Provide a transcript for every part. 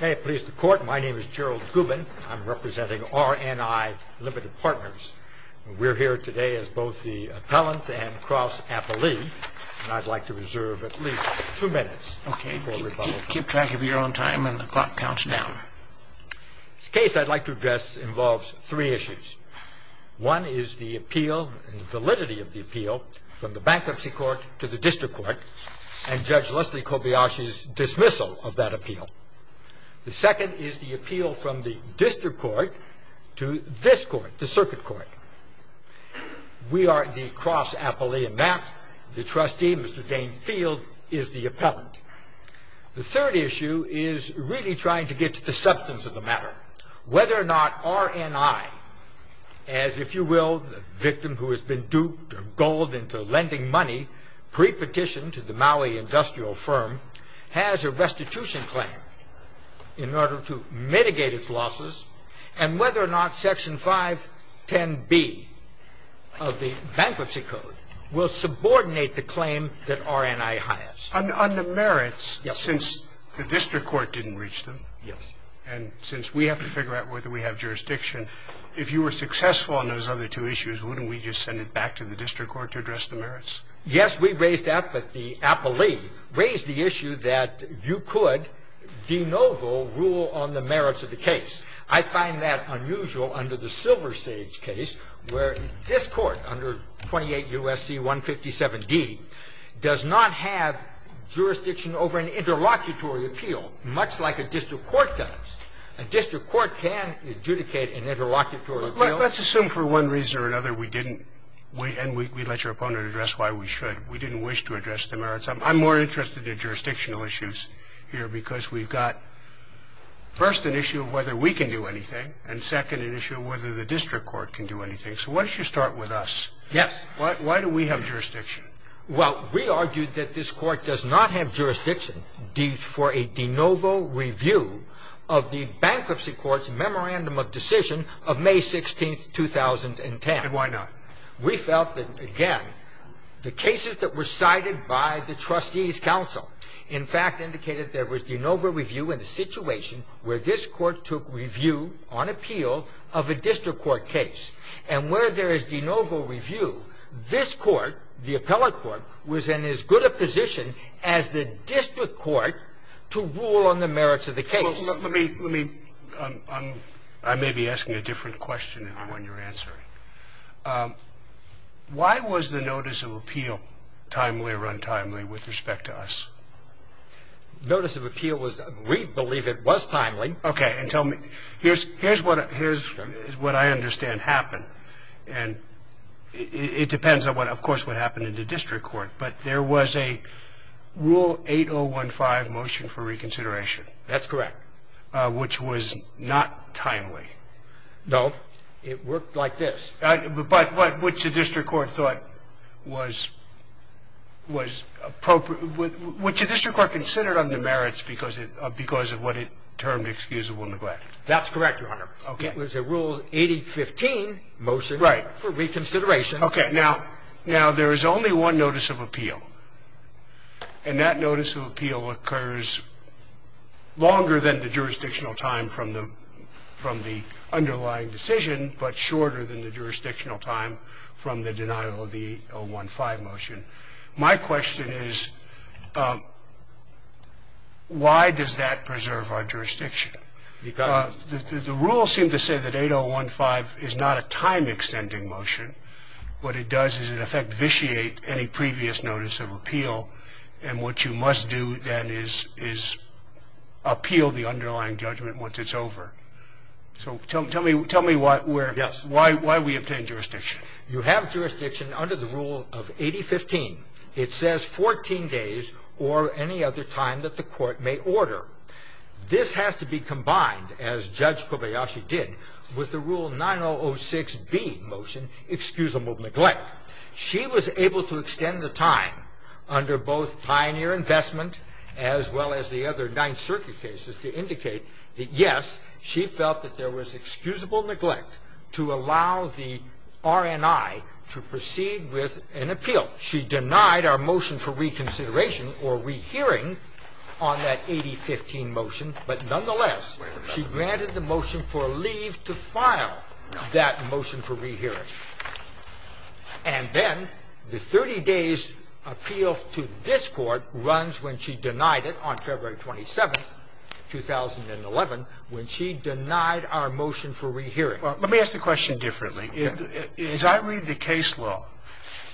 May it please the Court, my name is Gerald Gubin. I'm representing RNI Limited Partners. We're here today as both the appellant and cross-appellee, and I'd like to reserve at least two minutes for rebuttal. Keep track of your own time, and the clock counts down. The case I'd like to address involves three issues. One is the appeal, the validity of the appeal, from the Bankruptcy Court to the District Court, and Judge Leslie Kobayashi's dismissal of that appeal. The second is the appeal from the District Court to this Court, the Circuit Court. We are the cross-appellee in that. The trustee, Mr. Dane Field, is the appellant. The third issue is really trying to get to the substance of the matter, whether or not RNI, as, if you will, the victim who has been duped or gold into lending money pre-petition to the Maui industrial firm, has a restitution claim in order to mitigate its losses, and whether or not Section 510B of the Bankruptcy Code will subordinate the claim that RNI has. On the merits, since the District Court didn't reach them, Yes. And since we have to figure out whether we have jurisdiction, if you were successful on those other two issues, wouldn't we just send it back to the District Court to address the merits? Yes, we raised that, but the appellee raised the issue that you could de novo rule on the merits of the case. I find that unusual under the Silver Sage case, where this Court, under 28 U.S.C. 157D, does not have jurisdiction over an interlocutory appeal, much like a district court does. A district court can adjudicate an interlocutory appeal. Let's assume for one reason or another we didn't, and we let your opponent address why we should, we didn't wish to address the merits. I'm more interested in jurisdictional issues here because we've got, first, an issue of whether we can do anything, and second, an issue of whether the district court can do anything. So why don't you start with us? Yes. Why do we have jurisdiction? Well, we argued that this Court does not have jurisdiction for a de novo review of the Bankruptcy Court's Memorandum of Decision of May 16, 2010. And why not? We felt that, again, the cases that were cited by the Trustees' Council, in fact, indicated there was de novo review in the situation where this Court took review on appeal of a district court case. And where there is de novo review, this Court, the appellate court, was in as good a position as the district court to rule on the merits of the case. Well, let me, let me, I'm, I may be asking a different question than the one you're answering. Why was the notice of appeal timely or untimely with respect to us? Notice of appeal was, we believe it was timely. Okay. And tell me, here's, here's what, here's what I understand happened. And it depends on what, of course, what happened in the district court. But there was a Rule 8015 motion for reconsideration. That's correct. Which was not timely. No. It worked like this. But what, which the district court thought was, was appropriate, which the district court considered under merits because it, because of what it termed excusable neglect. That's correct, Your Honor. Okay. It was a Rule 8015 motion. Right. For reconsideration. Okay. Now, now, there is only one notice of appeal. And that notice of appeal occurs longer than the jurisdictional time from the, from the underlying decision, but shorter than the jurisdictional time from the denial of the 015 motion. My question is, why does that preserve our jurisdiction? Because. The, the rules seem to say that 8015 is not a time-extending motion. What it does is, in effect, vitiate any previous notice of appeal. And what you must do, then, is, is appeal the underlying judgment once it's over. So, tell, tell me, tell me what, where. Yes. Why, why we obtain jurisdiction. You have jurisdiction under the Rule of 8015. It says 14 days or any other time that the court may order. This has to be combined, as Judge Kobayashi did, with the Rule 9006B motion, excusable neglect. She was able to extend the time under both pioneer investment as well as the other Ninth Circuit cases to indicate that, yes, she felt that there was excusable neglect to allow the RNI to proceed with an appeal. She denied our motion for reconsideration or rehearing on that 8015 motion, but, nonetheless, she granted the motion for leave to file that motion for rehearing. And then the 30 days appeal to this Court runs when she denied it on February 27, 2011, when she denied our motion for rehearing. Well, let me ask the question differently. As I read the case law,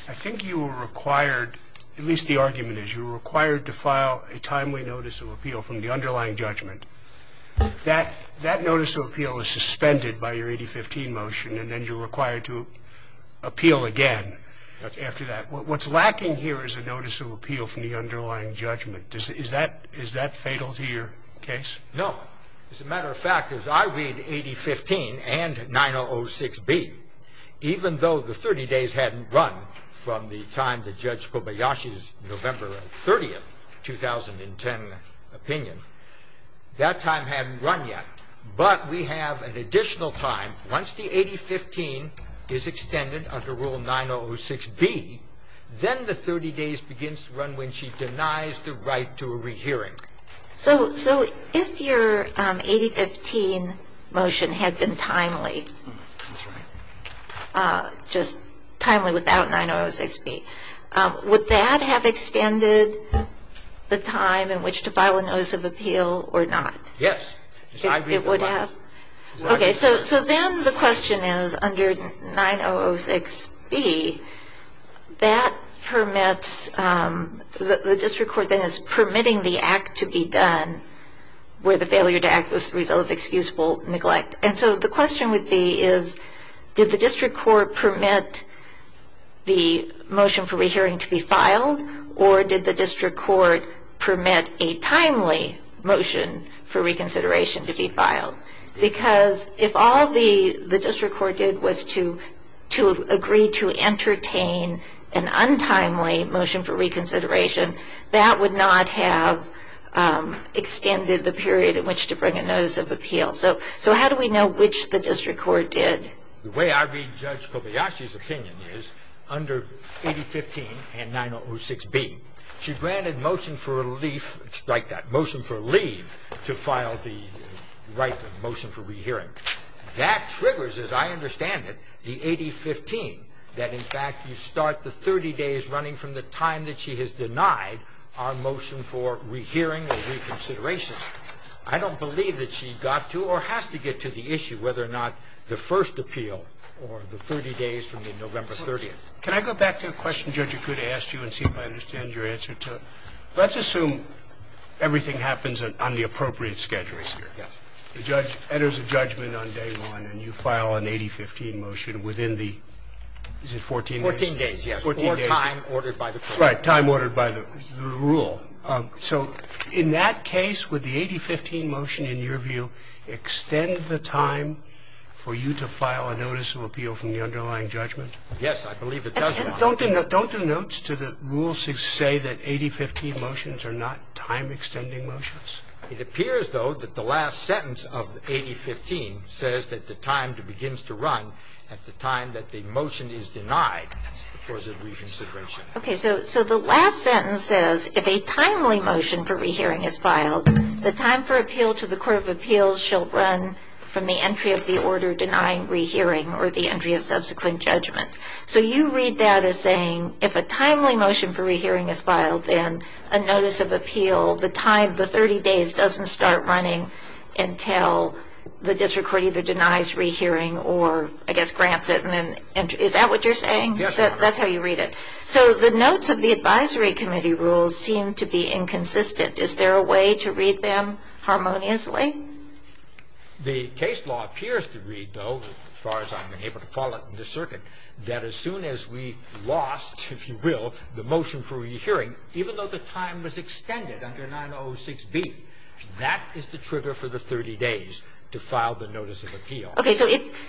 I think you were required, at least the argument is, you were required to file a timely notice of appeal from the underlying judgment. That, that notice of appeal is suspended by your 8015 motion, and then you're required to appeal again after that. What's lacking here is a notice of appeal from the underlying judgment. Is that fatal to your case? No. As a matter of fact, as I read 8015 and 9006B, even though the 30 days hadn't run from the time that Judge Kobayashi's November 30, 2010, opinion, that time hadn't run yet. But we have an additional time. Once the 8015 is extended under Rule 9006B, then the 30 days begins to run when she denies the right to a rehearing. So, so if your 8015 motion had been timely, just timely without 9006B, would that have extended the time in which to file a notice of appeal or not? Yes. It would have? Okay. So, so then the question is, under 9006B, that permits, the district court then is permitting the act to be done where the failure to act was the result of excusable neglect. And so the question would be is, did the district court permit the motion for rehearing to be filed, or did the district court permit a timely motion for reconsideration to be filed? Because if all the, the district court did was to, to agree to entertain an untimely motion for reconsideration, that would not have extended the period in which to bring a notice of appeal. So, so how do we know which the district court did? The way I read Judge Kobayashi's opinion is under 8015 and 9006B, she granted motion for relief, strike that, motion for leave to file the right to motion for rehearing. That triggers, as I understand it, the 8015, that in fact you start the 30 days running from the time that she has denied our motion for rehearing or reconsideration. I don't believe that she got to or has to get to the issue whether or not the first appeal or the 30 days from the November 30th. Can I go back to a question Judge Akuta asked you and see if I understand your answer to it? Let's assume everything happens on the appropriate schedules here. Yes. The judge enters a judgment on day one and you file an 8015 motion within the, is it 14 days? 14 days, yes. Or time ordered by the court. Right. Time ordered by the rule. So in that case, would the 8015 motion in your view extend the time for you to file a notice of appeal from the underlying judgment? Yes, I believe it does run. Don't the notes to the rules say that 8015 motions are not time extending motions? It appears, though, that the last sentence of 8015 says that the time begins to run at the time that the motion is denied for the reconsideration. Okay. So the last sentence says if a timely motion for rehearing is filed, the time for appeal to the court of appeals shall run from the entry of the order denying rehearing or the entry of subsequent judgment. So you read that as saying if a timely motion for rehearing is filed, then a notice of appeal, the 30 days, doesn't start running until the district court either denies rehearing or, I guess, grants it. Is that what you're saying? Yes, Your Honor. That's how you read it. So the notes of the advisory committee rules seem to be inconsistent. Is there a way to read them harmoniously? The case law appears to read, though, as far as I'm able to call it in this circuit, that as soon as we lost, if you will, the motion for rehearing, even though the time was extended under 906B, that is the trigger for the 30 days to file the notice of appeal. Okay.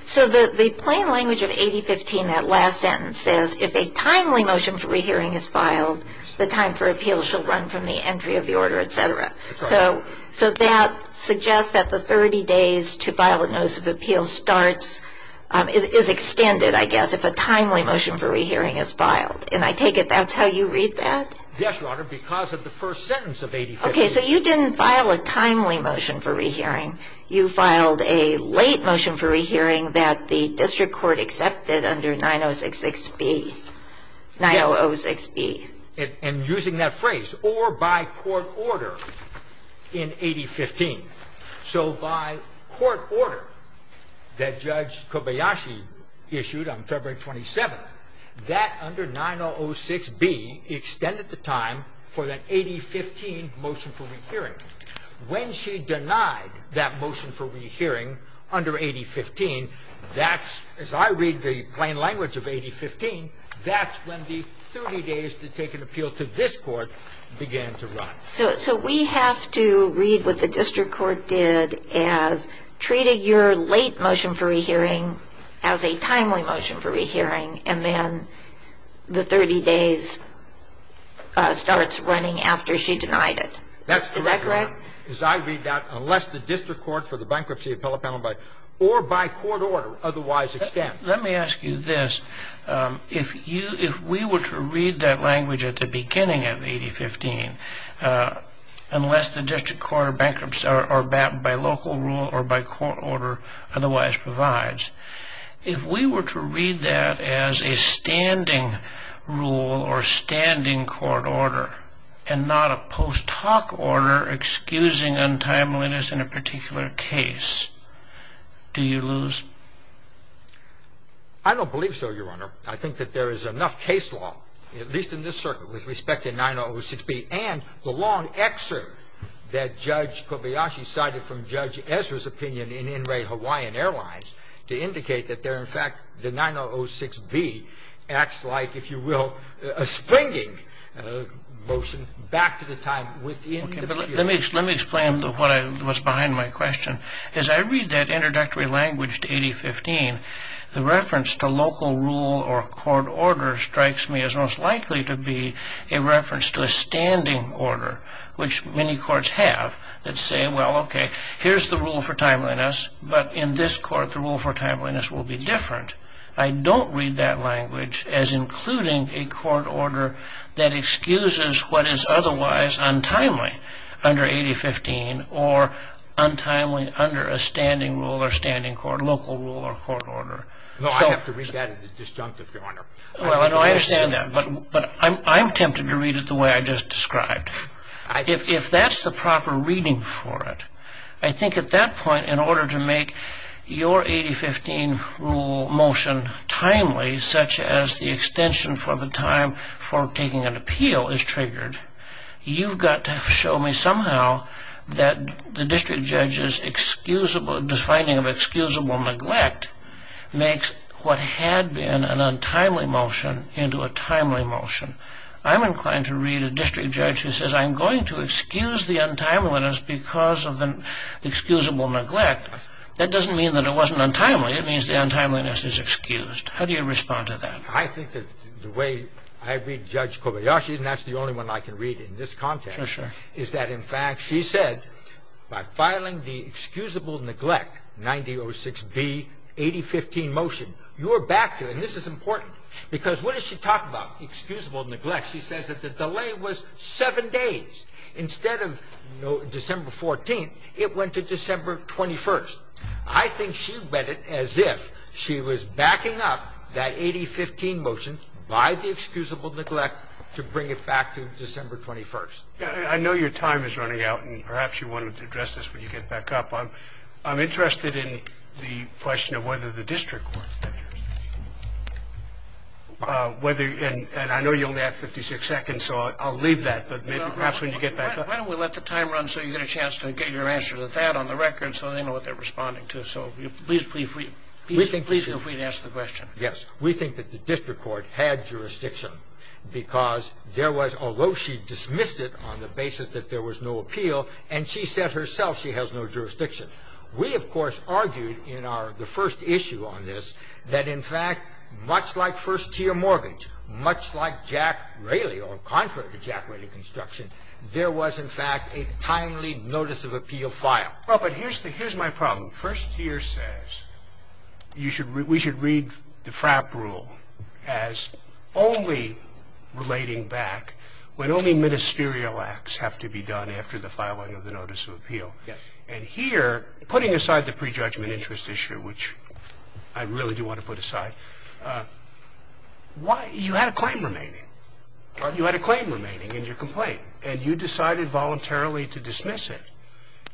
So the plain language of 8015, that last sentence, says if a timely motion for rehearing is filed, the time for appeal shall run from the entry of the order, et cetera. That's right. So that suggests that the 30 days to file a notice of appeal starts, is extended, I guess, if a timely motion for rehearing is filed. And I take it that's how you read that? Yes, Your Honor, because of the first sentence of 8015. Okay. So you didn't file a timely motion for rehearing. You filed a late motion for rehearing that the district court accepted under 906B. Yes. And using that phrase, or by court order. In 8015. So by court order that Judge Kobayashi issued on February 27th, that under 906B extended the time for that 8015 motion for rehearing. When she denied that motion for rehearing under 8015, that's, as I read the plain language of 8015, that's when the 30 days to take an appeal to this Court began to run. So we have to read what the district court did as treating your late motion for rehearing as a timely motion for rehearing, and then the 30 days starts running after she denied it. That's correct, Your Honor. Is that correct? Because I read that unless the district court for the bankruptcy appellate penalty, or by court order, otherwise extends. Let me ask you this. If we were to read that language at the beginning of 8015, unless the district court for bankruptcy or by local rule or by court order otherwise provides, if we were to read that as a standing rule or a standing court order, and not a post If we were to read that as a talk order excusing untimeliness in a particular case, do you lose? I don't believe so, Your Honor. I think that there is enough case law, at least in this circuit, with respect to 906B and the long excerpt that Judge Kobayashi cited from Judge Ezra's opinion in In Re Hawaiian Airlines to indicate that there, in fact, the 906B acts like, if you will, a springing motion back to the time within the period. Let me explain what's behind my question. As I read that introductory language to 8015, the reference to local rule or court order strikes me as most likely to be a reference to a standing order, which many courts have that say, well, okay, here's the rule for timeliness, but in this court, the rule for timeliness will be different. I don't read that language as including a court order that excuses what is otherwise untimely under 8015 or untimely under a standing rule or standing court, local rule or court order. No, I have to read that as a disjunctive, Your Honor. Well, I understand that, but I'm tempted to read it the way I just described. If that's the proper reading for it, I think at that point, in order to make your 8015 rule motion timely, such as the extension for the time for taking an appeal is triggered, you've got to show me somehow that the district judge's finding of excusable neglect makes what had been an untimely motion into a timely motion. I'm inclined to read a district judge who says, I'm going to excuse the untimeliness because of an excusable neglect. That doesn't mean that it wasn't untimely. It means the untimeliness is excused. How do you respond to that? I think that the way I read Judge Kobayashi, and that's the only one I can read in this context, is that, in fact, she said, by filing the excusable neglect, 9006B, 8015 motion, you are back to, and this is important, because what does she talk about, excusable neglect? She says that the delay was seven days. Instead of December 14th, it went to December 21st. I think she read it as if she was backing up that 8015 motion by the excusable neglect to bring it back to December 21st. I know your time is running out, and perhaps you wanted to address this when you get back up. I'm interested in the question of whether the district court, and I know you only have 56 seconds, so I'll leave that, but perhaps when you get back up. Why don't we let the time run so you get a chance to get your answer to that on the record so they know what they're responding to. So please feel free to answer the question. Yes. We think that the district court had jurisdiction because there was, although she dismissed it on the basis that there was no appeal, and she said herself she has no jurisdiction. We, of course, argued in our the first issue on this that, in fact, much like first tier mortgage, much like Jack Rayleigh, or contrary to Jack Rayleigh construction, there was, in fact, a timely notice of appeal file. Well, but here's the here's my problem. First tier says you should we should read the FRAP rule as only relating back when only ministerial acts have to be done after the filing of the notice of appeal. Yes. And here, putting aside the prejudgment interest issue, which I really do want to put aside, why you had a claim remaining. Pardon? You had a claim remaining in your complaint, and you decided voluntarily to dismiss it.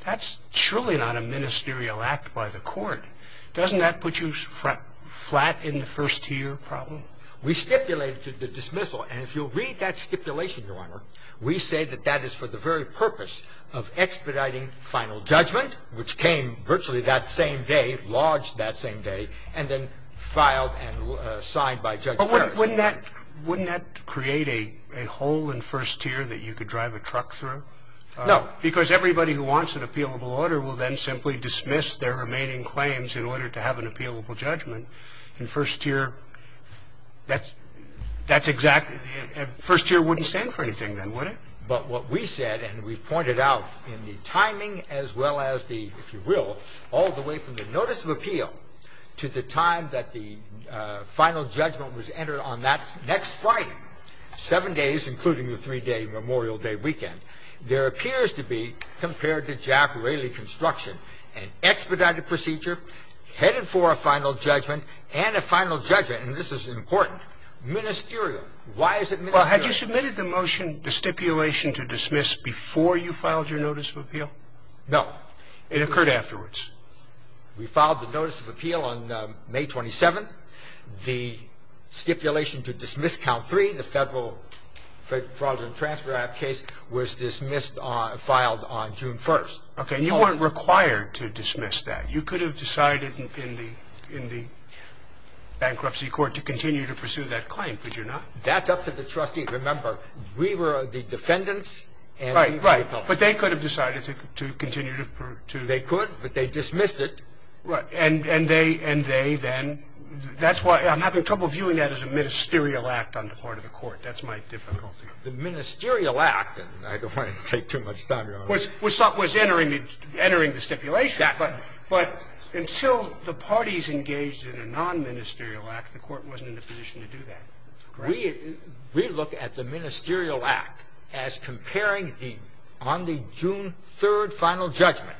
That's surely not a ministerial act by the Court. Doesn't that put you flat in the first tier problem? We stipulated the dismissal. And if you'll read that stipulation, Your Honor, we say that that is for the very purpose of expediting final judgment, which came virtually that same day, lodged that same day, and then filed and signed by Judge Ferris. But wouldn't that create a hole in first tier that you could drive a truck through? No. Because everybody who wants an appealable order will then simply dismiss their remaining claims in order to have an appealable judgment. In first tier, that's exactly the end. First tier wouldn't stand for anything then, would it? But what we said, and we pointed out in the timing as well as the, if you will, all the way from the notice of appeal to the time that the final judgment was entered on that next Friday, seven days, including the three-day Memorial Day weekend, there appears to be, compared to Jack Rayleigh construction, an expedited procedure headed for a final judgment and a final judgment, and this is important, ministerial. Why is it ministerial? Well, have you submitted the motion, the stipulation to dismiss, before you filed your notice of appeal? No. It occurred afterwards. We filed the notice of appeal on May 27th. The stipulation to dismiss count three, the Federal Fraud and Transfer Act case, was dismissed on, filed on June 1st. Okay, and you weren't required to dismiss that. You could have decided in the bankruptcy court to continue to pursue that claim, could you not? That's up to the trustee. Remember, we were the defendants and we were the public. Right, right. But they could have decided to continue to pursue. They could, but they dismissed it. Right. And they then, that's why I'm having trouble viewing that as a ministerial act on the part of the Court. That's my difficulty. The ministerial act, and I don't want to take too much time, Your Honor. Was entering the stipulation. Yeah. But until the parties engaged in a non-ministerial act, the Court wasn't in a position to do that. Correct. We look at the ministerial act as comparing the, on the June 3rd final judgment,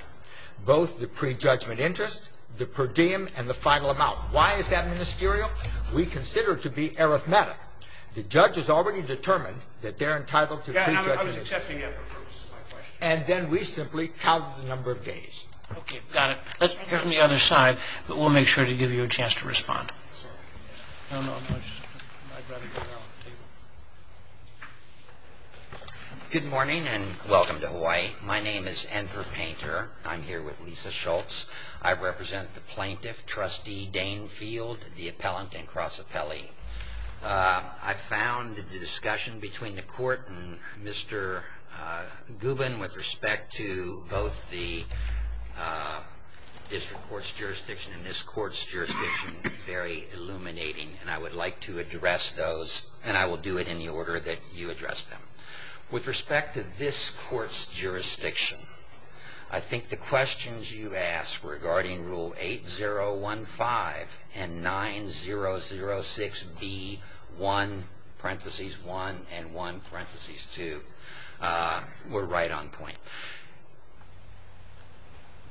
both the prejudgment interest, the per diem, and the final amount. Why is that ministerial? We consider it to be arithmetic. The judge has already determined that they're entitled to prejudgment interest. Yeah, I was accepting that for purposes of my question. And then we simply count the number of days. Okay, got it. Let's hear from the other side, but we'll make sure to give you a chance to respond. I don't know if I should. I'd rather go around the table. Good morning, and welcome to Hawaii. My name is Anther Painter. I'm here with Lisa Schultz. I represent the plaintiff, Trustee Dane Field, the appellant and cross appellee. I found the discussion between the Court and Mr. Gubin with respect to both the and I would like to address those, and I will do it in the order that you address them. With respect to this Court's jurisdiction, I think the questions you asked regarding Rule 8015 and 9006B1, parentheses 1 and 1, parentheses 2, were right on point.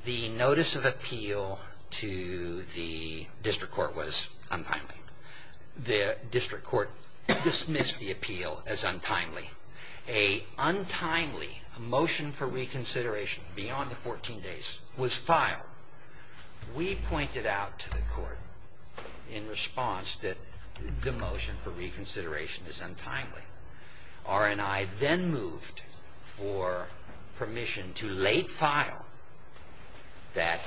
The notice of appeal to the District Court was untimely. The District Court dismissed the appeal as untimely. A untimely motion for reconsideration beyond the 14 days was filed. We pointed out to the Court in response that the motion for reconsideration is untimely. R&I then moved for permission to late-file that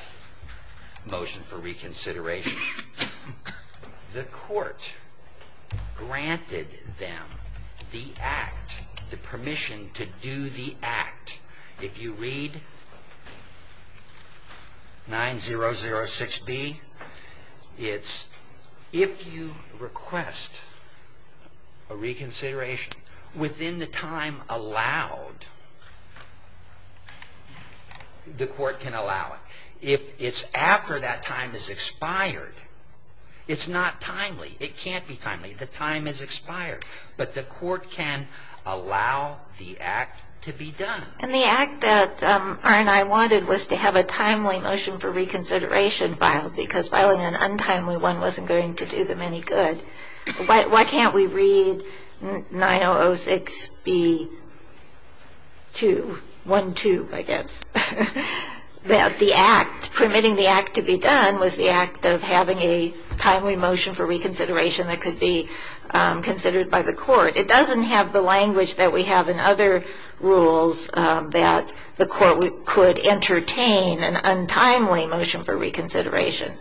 motion for reconsideration. The Court granted them the act, the permission to do the act. If you read 9006B, it's if you request a reconsideration within the time allowed, the Court can allow it. If it's after that time has expired, it's not timely. It can't be timely. The time has expired. But the Court can allow the act to be done. And the act that R&I wanted was to have a timely motion for reconsideration filed because filing an untimely one wasn't going to do them any good. Why can't we read 9006B12, I guess, that the act, permitting the act to be done, was the act of having a timely motion for reconsideration that could be considered by the Court? It doesn't have the language that we have in other rules that the Court could entertain an untimely motion for reconsideration.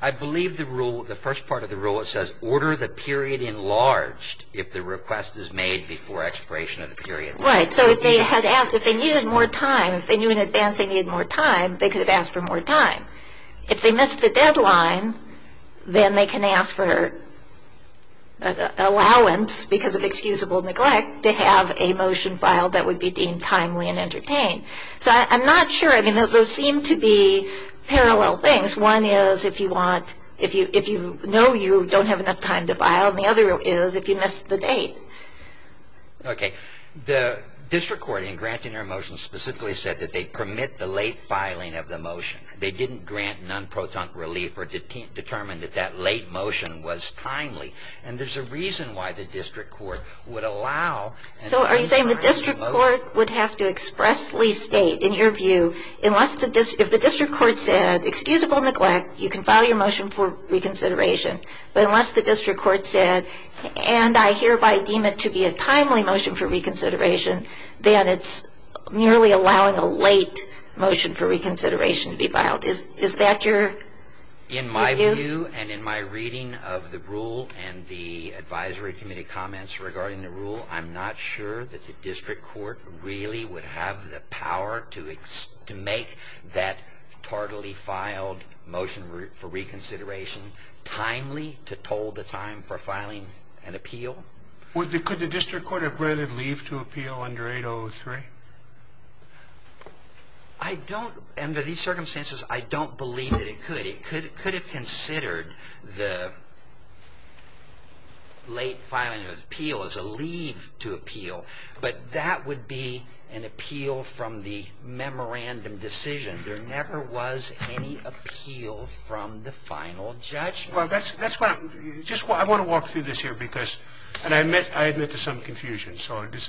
I believe the first part of the rule, it says, order the period enlarged if the request is made before expiration of the period. Right. So if they needed more time, if they knew in advance they needed more time, they could have asked for more time. If they missed the deadline, then they can ask for allowance, because of excusable neglect, to have a motion filed that would be deemed timely and entertained. So I'm not sure. I mean, those seem to be parallel things. One is if you know you don't have enough time to file, and the other is if you missed the date. Okay. The district court in granting their motion specifically said that they permit the late filing of the motion. They didn't grant non-proton relief or determine that that late motion was timely. And there's a reason why the district court would allow. So are you saying the district court would have to expressly state, in your view, if the district court said excusable neglect, you can file your motion for reconsideration, but unless the district court said, and I hereby deem it to be a timely motion for reconsideration, that it's merely allowing a late motion for reconsideration to be filed? Is that your view? In my view and in my reading of the rule and the advisory committee comments regarding the rule, I'm not sure that the district court really would have the power to make that tardily filed motion for reconsideration timely to toll the time for filing an appeal. Could the district court have granted leave to appeal under 803? Under these circumstances, I don't believe that it could. It could have considered the late filing of an appeal as a leave to appeal, but that would be an appeal from the memorandum decision. There never was any appeal from the final judgment. I want to walk through this here because, and I admit to some confusion, so this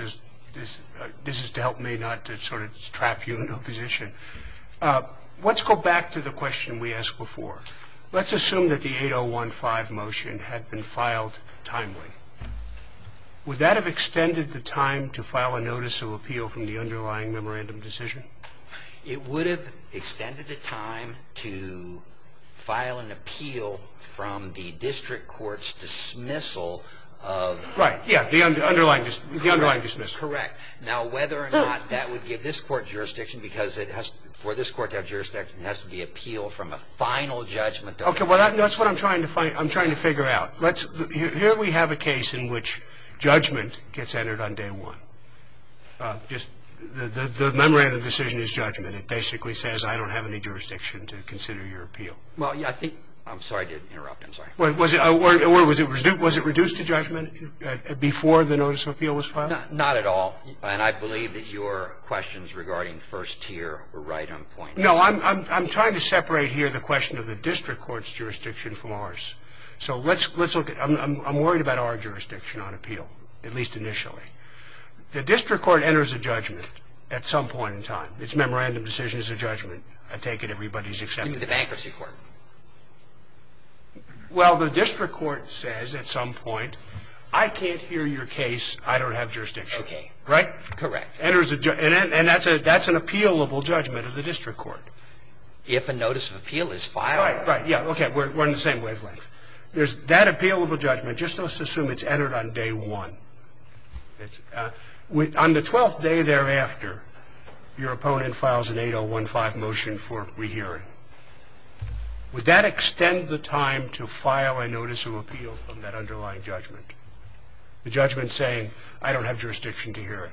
is to help me not to sort of trap you in opposition. Let's go back to the question we asked before. Let's assume that the 8015 motion had been filed timely. Would that have extended the time to file a notice of appeal from the underlying memorandum decision? It would have extended the time to file an appeal from the district court's dismissal. Right, yeah, the underlying dismissal. Correct. Now, whether or not that would give this court jurisdiction because for this court to have jurisdiction, it has to be appealed from a final judgment. Okay, that's what I'm trying to figure out. Here we have a case in which judgment gets entered on day one. The memorandum decision is judgment. It basically says I don't have any jurisdiction to consider your appeal. Well, I think – I'm sorry to interrupt. I'm sorry. Was it reduced to judgment before the notice of appeal was filed? Not at all. And I believe that your questions regarding first tier were right on point. No, I'm trying to separate here the question of the district court's jurisdiction from ours. So let's look at – I'm worried about our jurisdiction on appeal, at least initially. The district court enters a judgment at some point in time. Its memorandum decision is a judgment. I take it everybody's accepted it. Even the bankruptcy court? Well, the district court says at some point, I can't hear your case, I don't have jurisdiction. Okay. Right? Correct. And that's an appealable judgment of the district court. If a notice of appeal is filed. Right, right, yeah. Okay, we're in the same wavelength. There's that appealable judgment. Just let's assume it's entered on day one. On the 12th day thereafter, your opponent files an 8015 motion for rehearing. Would that extend the time to file a notice of appeal from that underlying judgment? The judgment saying, I don't have jurisdiction to hear it.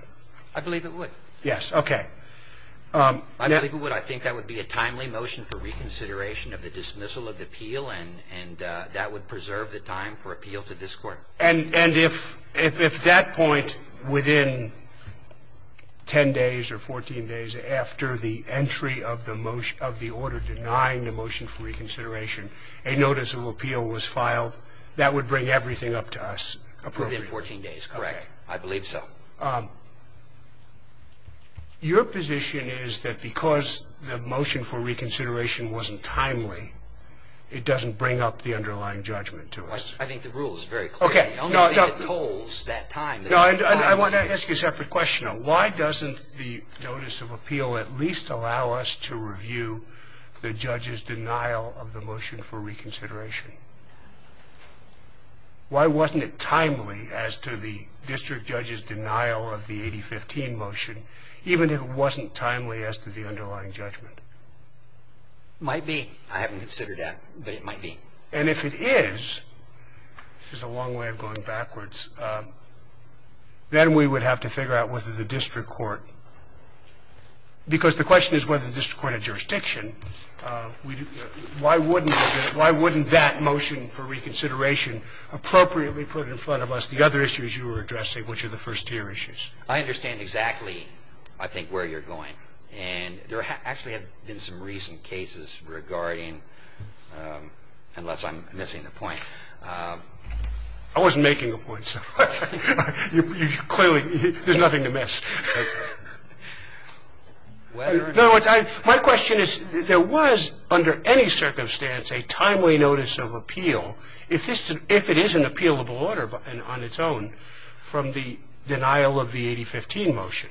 I believe it would. Yes, okay. I believe it would. I think that would be a timely motion for reconsideration of the dismissal of the appeal, and that would preserve the time for appeal to this court. And if that point within 10 days or 14 days after the entry of the order denying the motion for reconsideration, a notice of appeal was filed, that would bring everything up to us appropriately? Within 14 days, correct. I believe so. Your position is that because the motion for reconsideration wasn't timely, it doesn't bring up the underlying judgment to us? I think the rule is very clear. Okay. I don't think it holds that time. I want to ask you a separate question. Why doesn't the notice of appeal at least allow us to review the judge's denial of the motion for reconsideration? Why wasn't it timely as to the district judge's denial of the 8015 motion, even if it wasn't timely as to the underlying judgment? Might be. I haven't considered that, but it might be. And if it is, this is a long way of going backwards, then we would have to figure out whether the district court, because the question is whether the district court had jurisdiction, why wouldn't that motion for reconsideration appropriately put in front of us the other issues you were addressing, which are the first-tier issues? I understand exactly, I think, where you're going. And there actually have been some recent cases regarding, unless I'm missing the point. I wasn't making a point, sir. Clearly, there's nothing to miss. My question is, there was, under any circumstance, a timely notice of appeal, if it is an appealable order on its own, from the denial of the 8015 motion.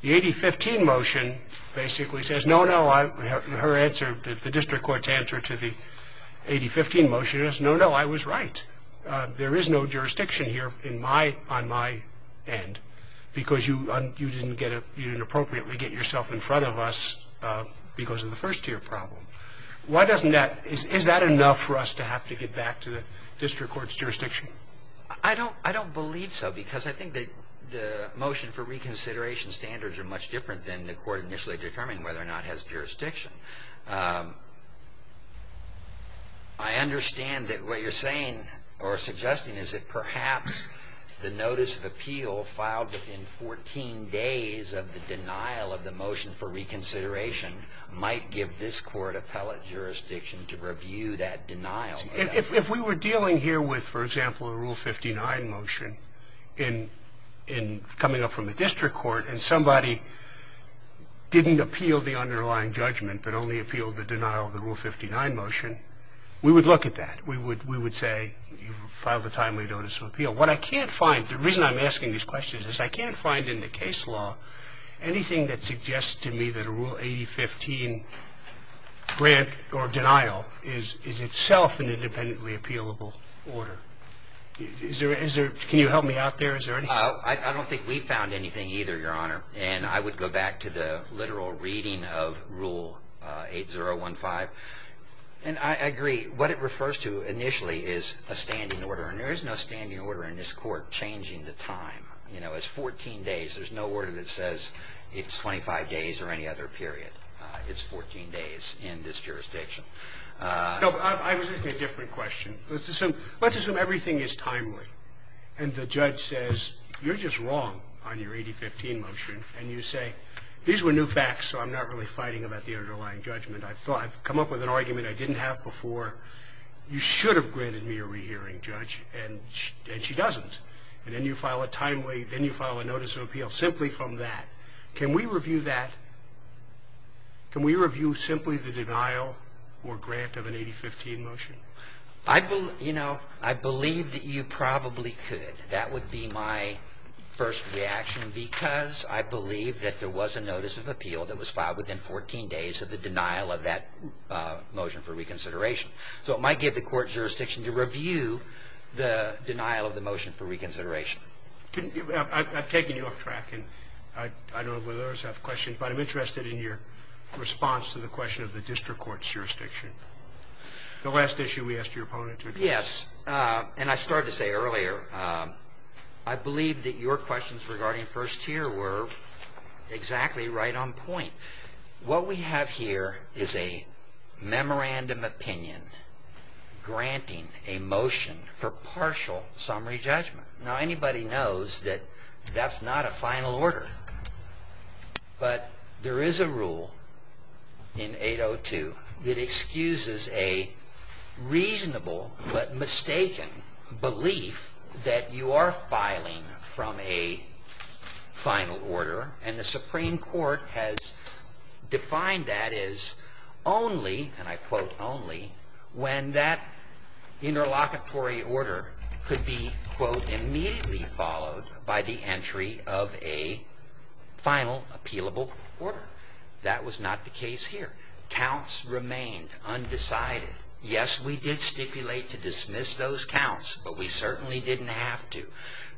The 8015 motion basically says, no, no, her answer, the district court's answer to the 8015 motion is, no, no, I was right. There is no jurisdiction here on my end, because you didn't appropriately get yourself in front of us because of the first-tier problem. Why doesn't that, is that enough for us to have to get back to the district court's jurisdiction? I don't believe so, because I think the motion for reconsideration standards are much different than the court initially determining whether or not it has jurisdiction. I understand that what you're saying, or suggesting, is that perhaps the notice of appeal filed within 14 days of the denial of the motion for reconsideration might give this court appellate jurisdiction to review that denial. If we were dealing here with, for example, a Rule 59 motion, in coming up from the district court, and somebody didn't appeal the underlying judgment, but only appealed the denial of the Rule 59 motion, we would look at that. We would say, you filed a timely notice of appeal. What I can't find, the reason I'm asking these questions is I can't find in the case law anything that suggests to me that a Rule 8015 grant or denial is itself an independently appealable order. Can you help me out there? I don't think we found anything either, Your Honor. And I would go back to the literal reading of Rule 8015. And I agree. What it refers to initially is a standing order. And there is no standing order in this Court changing the time. You know, it's 14 days. There's no order that says it's 25 days or any other period. It's 14 days in this jurisdiction. I was asking a different question. Let's assume everything is timely. And the judge says, you're just wrong on your 8015 motion. And you say, these were new facts, so I'm not really fighting about the underlying judgment. I've come up with an argument I didn't have before. You should have granted me a rehearing, Judge, and she doesn't. And then you file a timely, then you file a notice of appeal simply from that. Can we review that? Can we review simply the denial or grant of an 8015 motion? I believe that you probably could. That would be my first reaction, because I believe that there was a notice of appeal that was filed within 14 days of the denial of that motion for reconsideration. So it might give the court jurisdiction to review the denial of the motion for reconsideration. I've taken your track, and I don't know whether others have questions, but I'm interested in your response to the question of the district court's jurisdiction. The last issue we asked your opponent to address. Yes, and I started to say earlier, I believe that your questions regarding first tier were exactly right on point. What we have here is a memorandum opinion granting a motion for partial summary judgment. Now, anybody knows that that's not a final order. But there is a rule in 802 that excuses a reasonable but mistaken belief that you are filing from a final order, and the Supreme Court has defined that as only, and I quote, a final appealable order. That was not the case here. Counts remained undecided. Yes, we did stipulate to dismiss those counts, but we certainly didn't have to.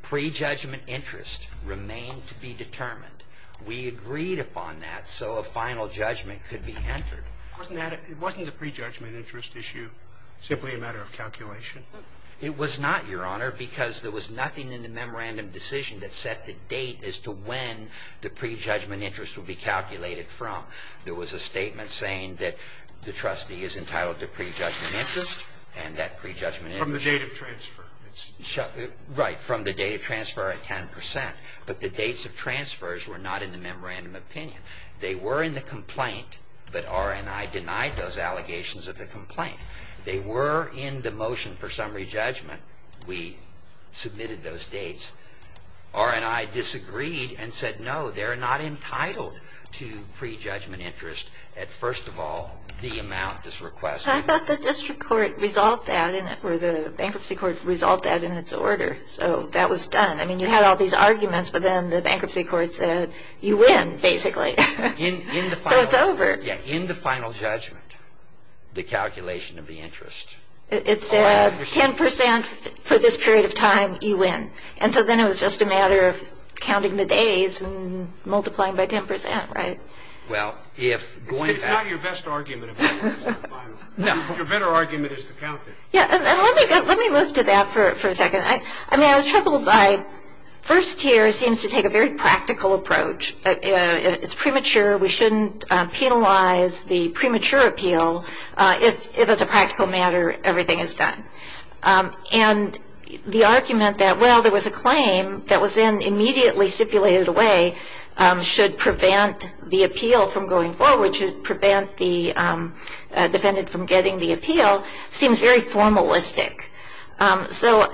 Prejudgment interest remained to be determined. We agreed upon that so a final judgment could be entered. Wasn't the prejudgment interest issue simply a matter of calculation? It was not, Your Honor, because there was nothing in the memorandum decision that set the date as to when the prejudgment interest would be calculated from. There was a statement saying that the trustee is entitled to prejudgment interest, and that prejudgment interest From the date of transfer. Right, from the date of transfer at 10%, but the dates of transfers were not in the memorandum opinion. They were in the complaint, but R&I denied those allegations of the complaint. They were in the motion for summary judgment. We submitted those dates. R&I disagreed and said, no, they're not entitled to prejudgment interest at, first of all, the amount this request. I thought the district court resolved that, or the bankruptcy court resolved that in its order, so that was done. I mean, you had all these arguments, but then the bankruptcy court said, you win, basically. So it's over. Yeah, in the final judgment, the calculation of the interest. It said, 10% for this period of time, you win. And so then it was just a matter of counting the days and multiplying by 10%, right? Well, if going back It's not your best argument. No. Your better argument is to count it. Yeah, and let me move to that for a second. I mean, I was troubled by first tier seems to take a very practical approach. It's premature. We shouldn't penalize the premature appeal if, as a practical matter, everything is done. And the argument that, well, there was a claim that was then immediately stipulated away, should prevent the appeal from going forward, should prevent the defendant from getting the appeal, seems very formalistic. So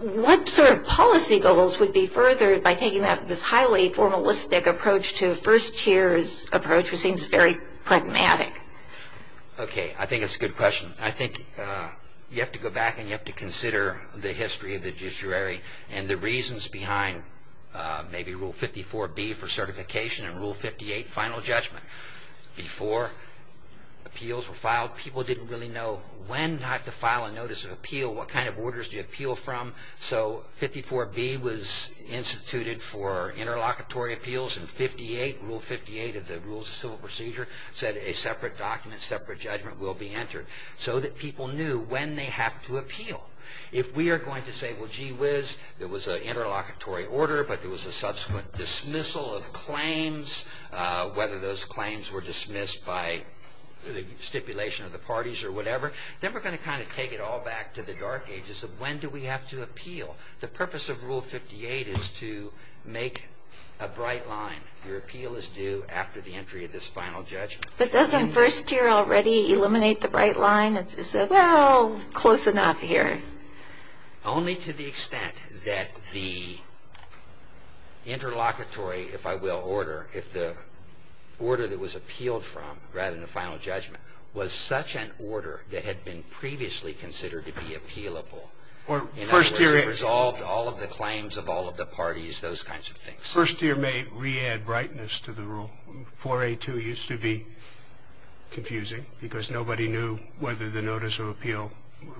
what sort of policy goals would be furthered by taking this highly formalistic approach to first tier's approach, which seems very pragmatic? Okay, I think it's a good question. I think you have to go back and you have to consider the history of the judiciary and the reasons behind maybe Rule 54B for certification and Rule 58, final judgment. Before appeals were filed, people didn't really know when to file a notice of appeal. What kind of orders do you appeal from? So 54B was instituted for interlocutory appeals and 58, Rule 58 of the Rules of Civil Procedure, said a separate document, separate judgment will be entered so that people knew when they have to appeal. If we are going to say, well, gee whiz, there was an interlocutory order, but there was a subsequent dismissal of claims, whether those claims were dismissed by the stipulation of the parties or whatever, then we're going to kind of take it all back to the dark ages of when do we have to appeal. The purpose of Rule 58 is to make a bright line. Your appeal is due after the entry of this final judgment. But doesn't first tier already eliminate the bright line and say, well, close enough here? Only to the extent that the interlocutory, if I will, order, if the order that was appealed from rather than the final judgment was such an order that had been previously considered to be appealable. Or first tier resolved all of the claims of all of the parties, those kinds of things. First tier may re-add brightness to the rule. 4A2 used to be confusing because nobody knew whether the notice of appeal,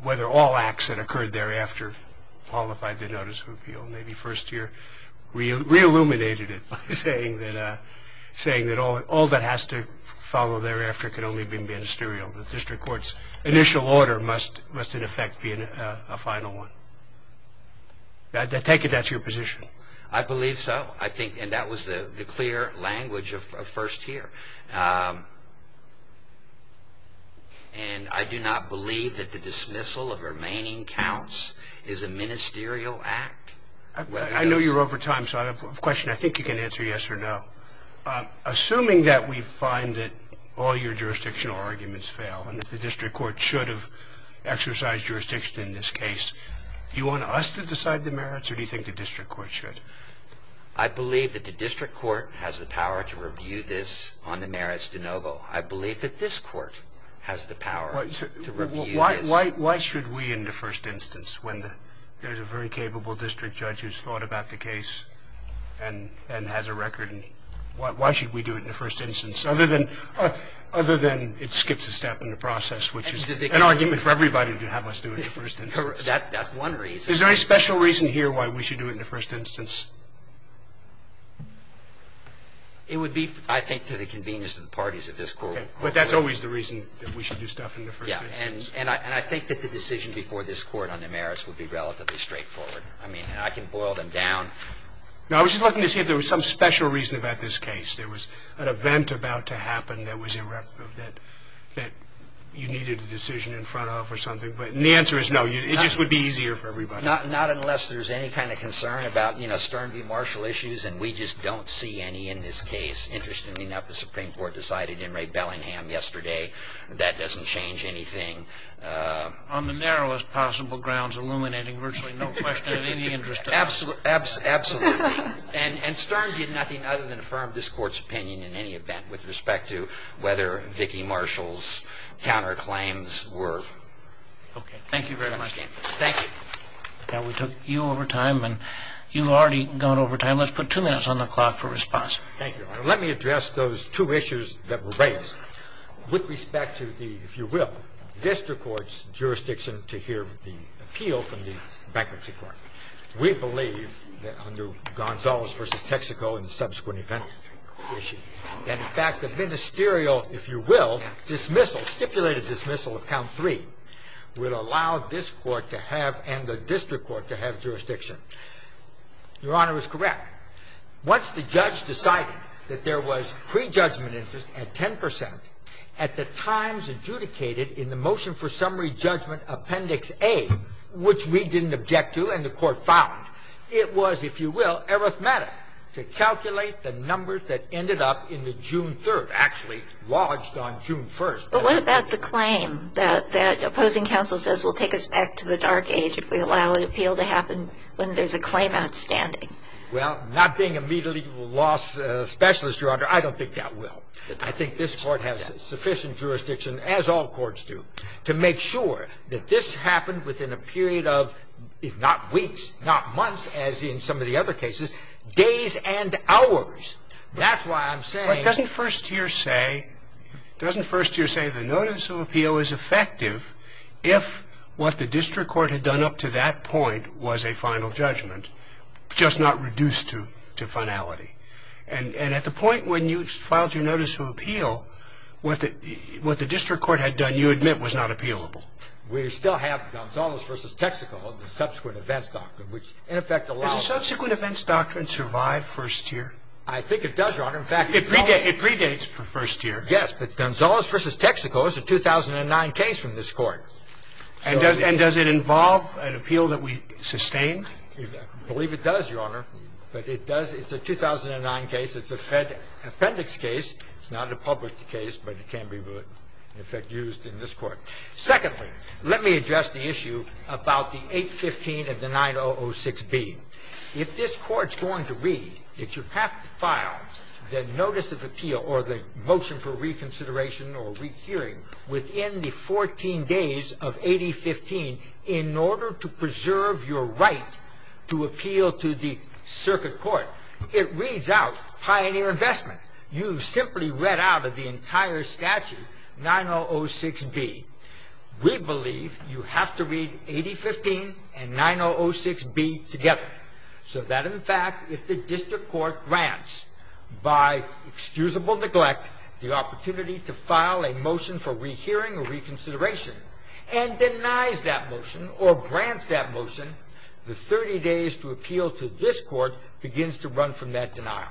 whether all acts that occurred thereafter qualified the notice of appeal. Maybe first tier re-illuminated it by saying that all that has to follow thereafter can only be ministerial. The district court's initial order must, in effect, be a final one. I take it that's your position. I believe so. And that was the clear language of first tier. And I do not believe that the dismissal of remaining counts is a ministerial act. I know you're over time, so I have a question I think you can answer yes or no. Assuming that we find that all your jurisdictional arguments fail and that the district court should have exercised jurisdiction in this case, do you want us to decide the merits or do you think the district court should? I believe that the district court has the power to review this on the merits de novo. I believe that this court has the power to review this. Why should we in the first instance, when there's a very capable district judge who's thought about the case and has a record? Why should we do it in the first instance other than it skips a step in the process, which is an argument for everybody to have us do it in the first instance. That's one reason. Is there any special reason here why we should do it in the first instance? It would be, I think, to the convenience of the parties of this court. But that's always the reason that we should do stuff in the first instance. And I think that the decision before this court on the merits would be relatively straightforward. I mean, I can boil them down. No, I was just looking to see if there was some special reason about this case. There was an event about to happen that was irreparable, that you needed a decision in front of or something. The answer is no. It just would be easier for everybody. Not unless there's any kind of concern about Stern v. Marshall issues, and we just don't see any in this case. Interestingly enough, the Supreme Court decided in Ray Bellingham yesterday that doesn't change anything. On the narrowest possible grounds, illuminating virtually no question of any interest. Absolutely. And Stern did nothing other than affirm this court's opinion in any event with respect to whether Vicki Marshall's counterclaims were. Okay. Thank you very much. Thank you. Now, we took you over time, and you've already gone over time. Let's put two minutes on the clock for response. Thank you, Your Honor. Let me address those two issues that were raised. With respect to the, if you will, district court's jurisdiction to hear the appeal from the bankruptcy court, we believe that under Gonzalez v. Texaco and the subsequent And, in fact, the ministerial, if you will, dismissal, stipulated dismissal of count 3, would allow this Court to have and the district court to have jurisdiction. Your Honor is correct. Once the judge decided that there was prejudgment interest at 10 percent, at the times adjudicated in the motion for summary judgment Appendix A, which we didn't object to and the court found, it was, if you will, arithmetic to calculate the numbers that ended up in the June 3rd, actually lodged on June 1st. But what about the claim that opposing counsel says will take us back to the dark age if we allow an appeal to happen when there's a claim outstanding? Well, not being a media legal loss specialist, Your Honor, I don't think that will. I think this Court has sufficient jurisdiction, as all courts do, to make sure that this appeal happens within a period of, if not weeks, not months, as in some of the other cases, days and hours. That's why I'm saying... But doesn't first year say, doesn't first year say the notice of appeal is effective if what the district court had done up to that point was a final judgment, just not reduced to finality? And at the point when you filed your notice of appeal, what the district court had done, you admit, was not appealable. We still have Gonzalez v. Texaco, the subsequent events doctrine, which in effect allows... Does the subsequent events doctrine survive first year? I think it does, Your Honor. In fact, it predates first year. Yes, but Gonzalez v. Texaco is a 2009 case from this Court. I believe it does, Your Honor. But it does. It's a 2009 case. It's a Fed appendix case. It's not a published case, but it can be in effect used in this Court. Secondly, let me address the issue about the 815 and the 9006b. If this Court's going to read, it should have to file the notice of appeal or the motion for reconsideration or rehearing within the 14 days of 8015 in order to preserve your right to appeal to the circuit court. It reads out Pioneer Investment. You've simply read out of the entire statute 9006b. We believe you have to read 8015 and 9006b together so that, in fact, if the district court grants by excusable neglect the opportunity to file a motion for rehearing or appeal to this court, it begins to run from that denial.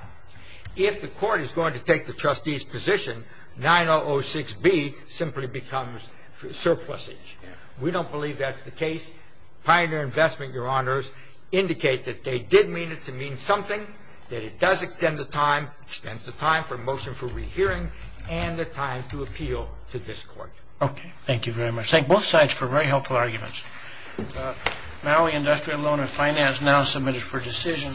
If the court is going to take the trustee's position, 9006b simply becomes surplusage. We don't believe that's the case. Pioneer Investment, Your Honors, indicate that they did mean it to mean something, that it does extend the time, extends the time for motion for rehearing and the time to appeal to this court. Okay. Thank you very much. Thank both sides for very helpful arguments. Maui Industrial Loan and Finance now submitted for decision.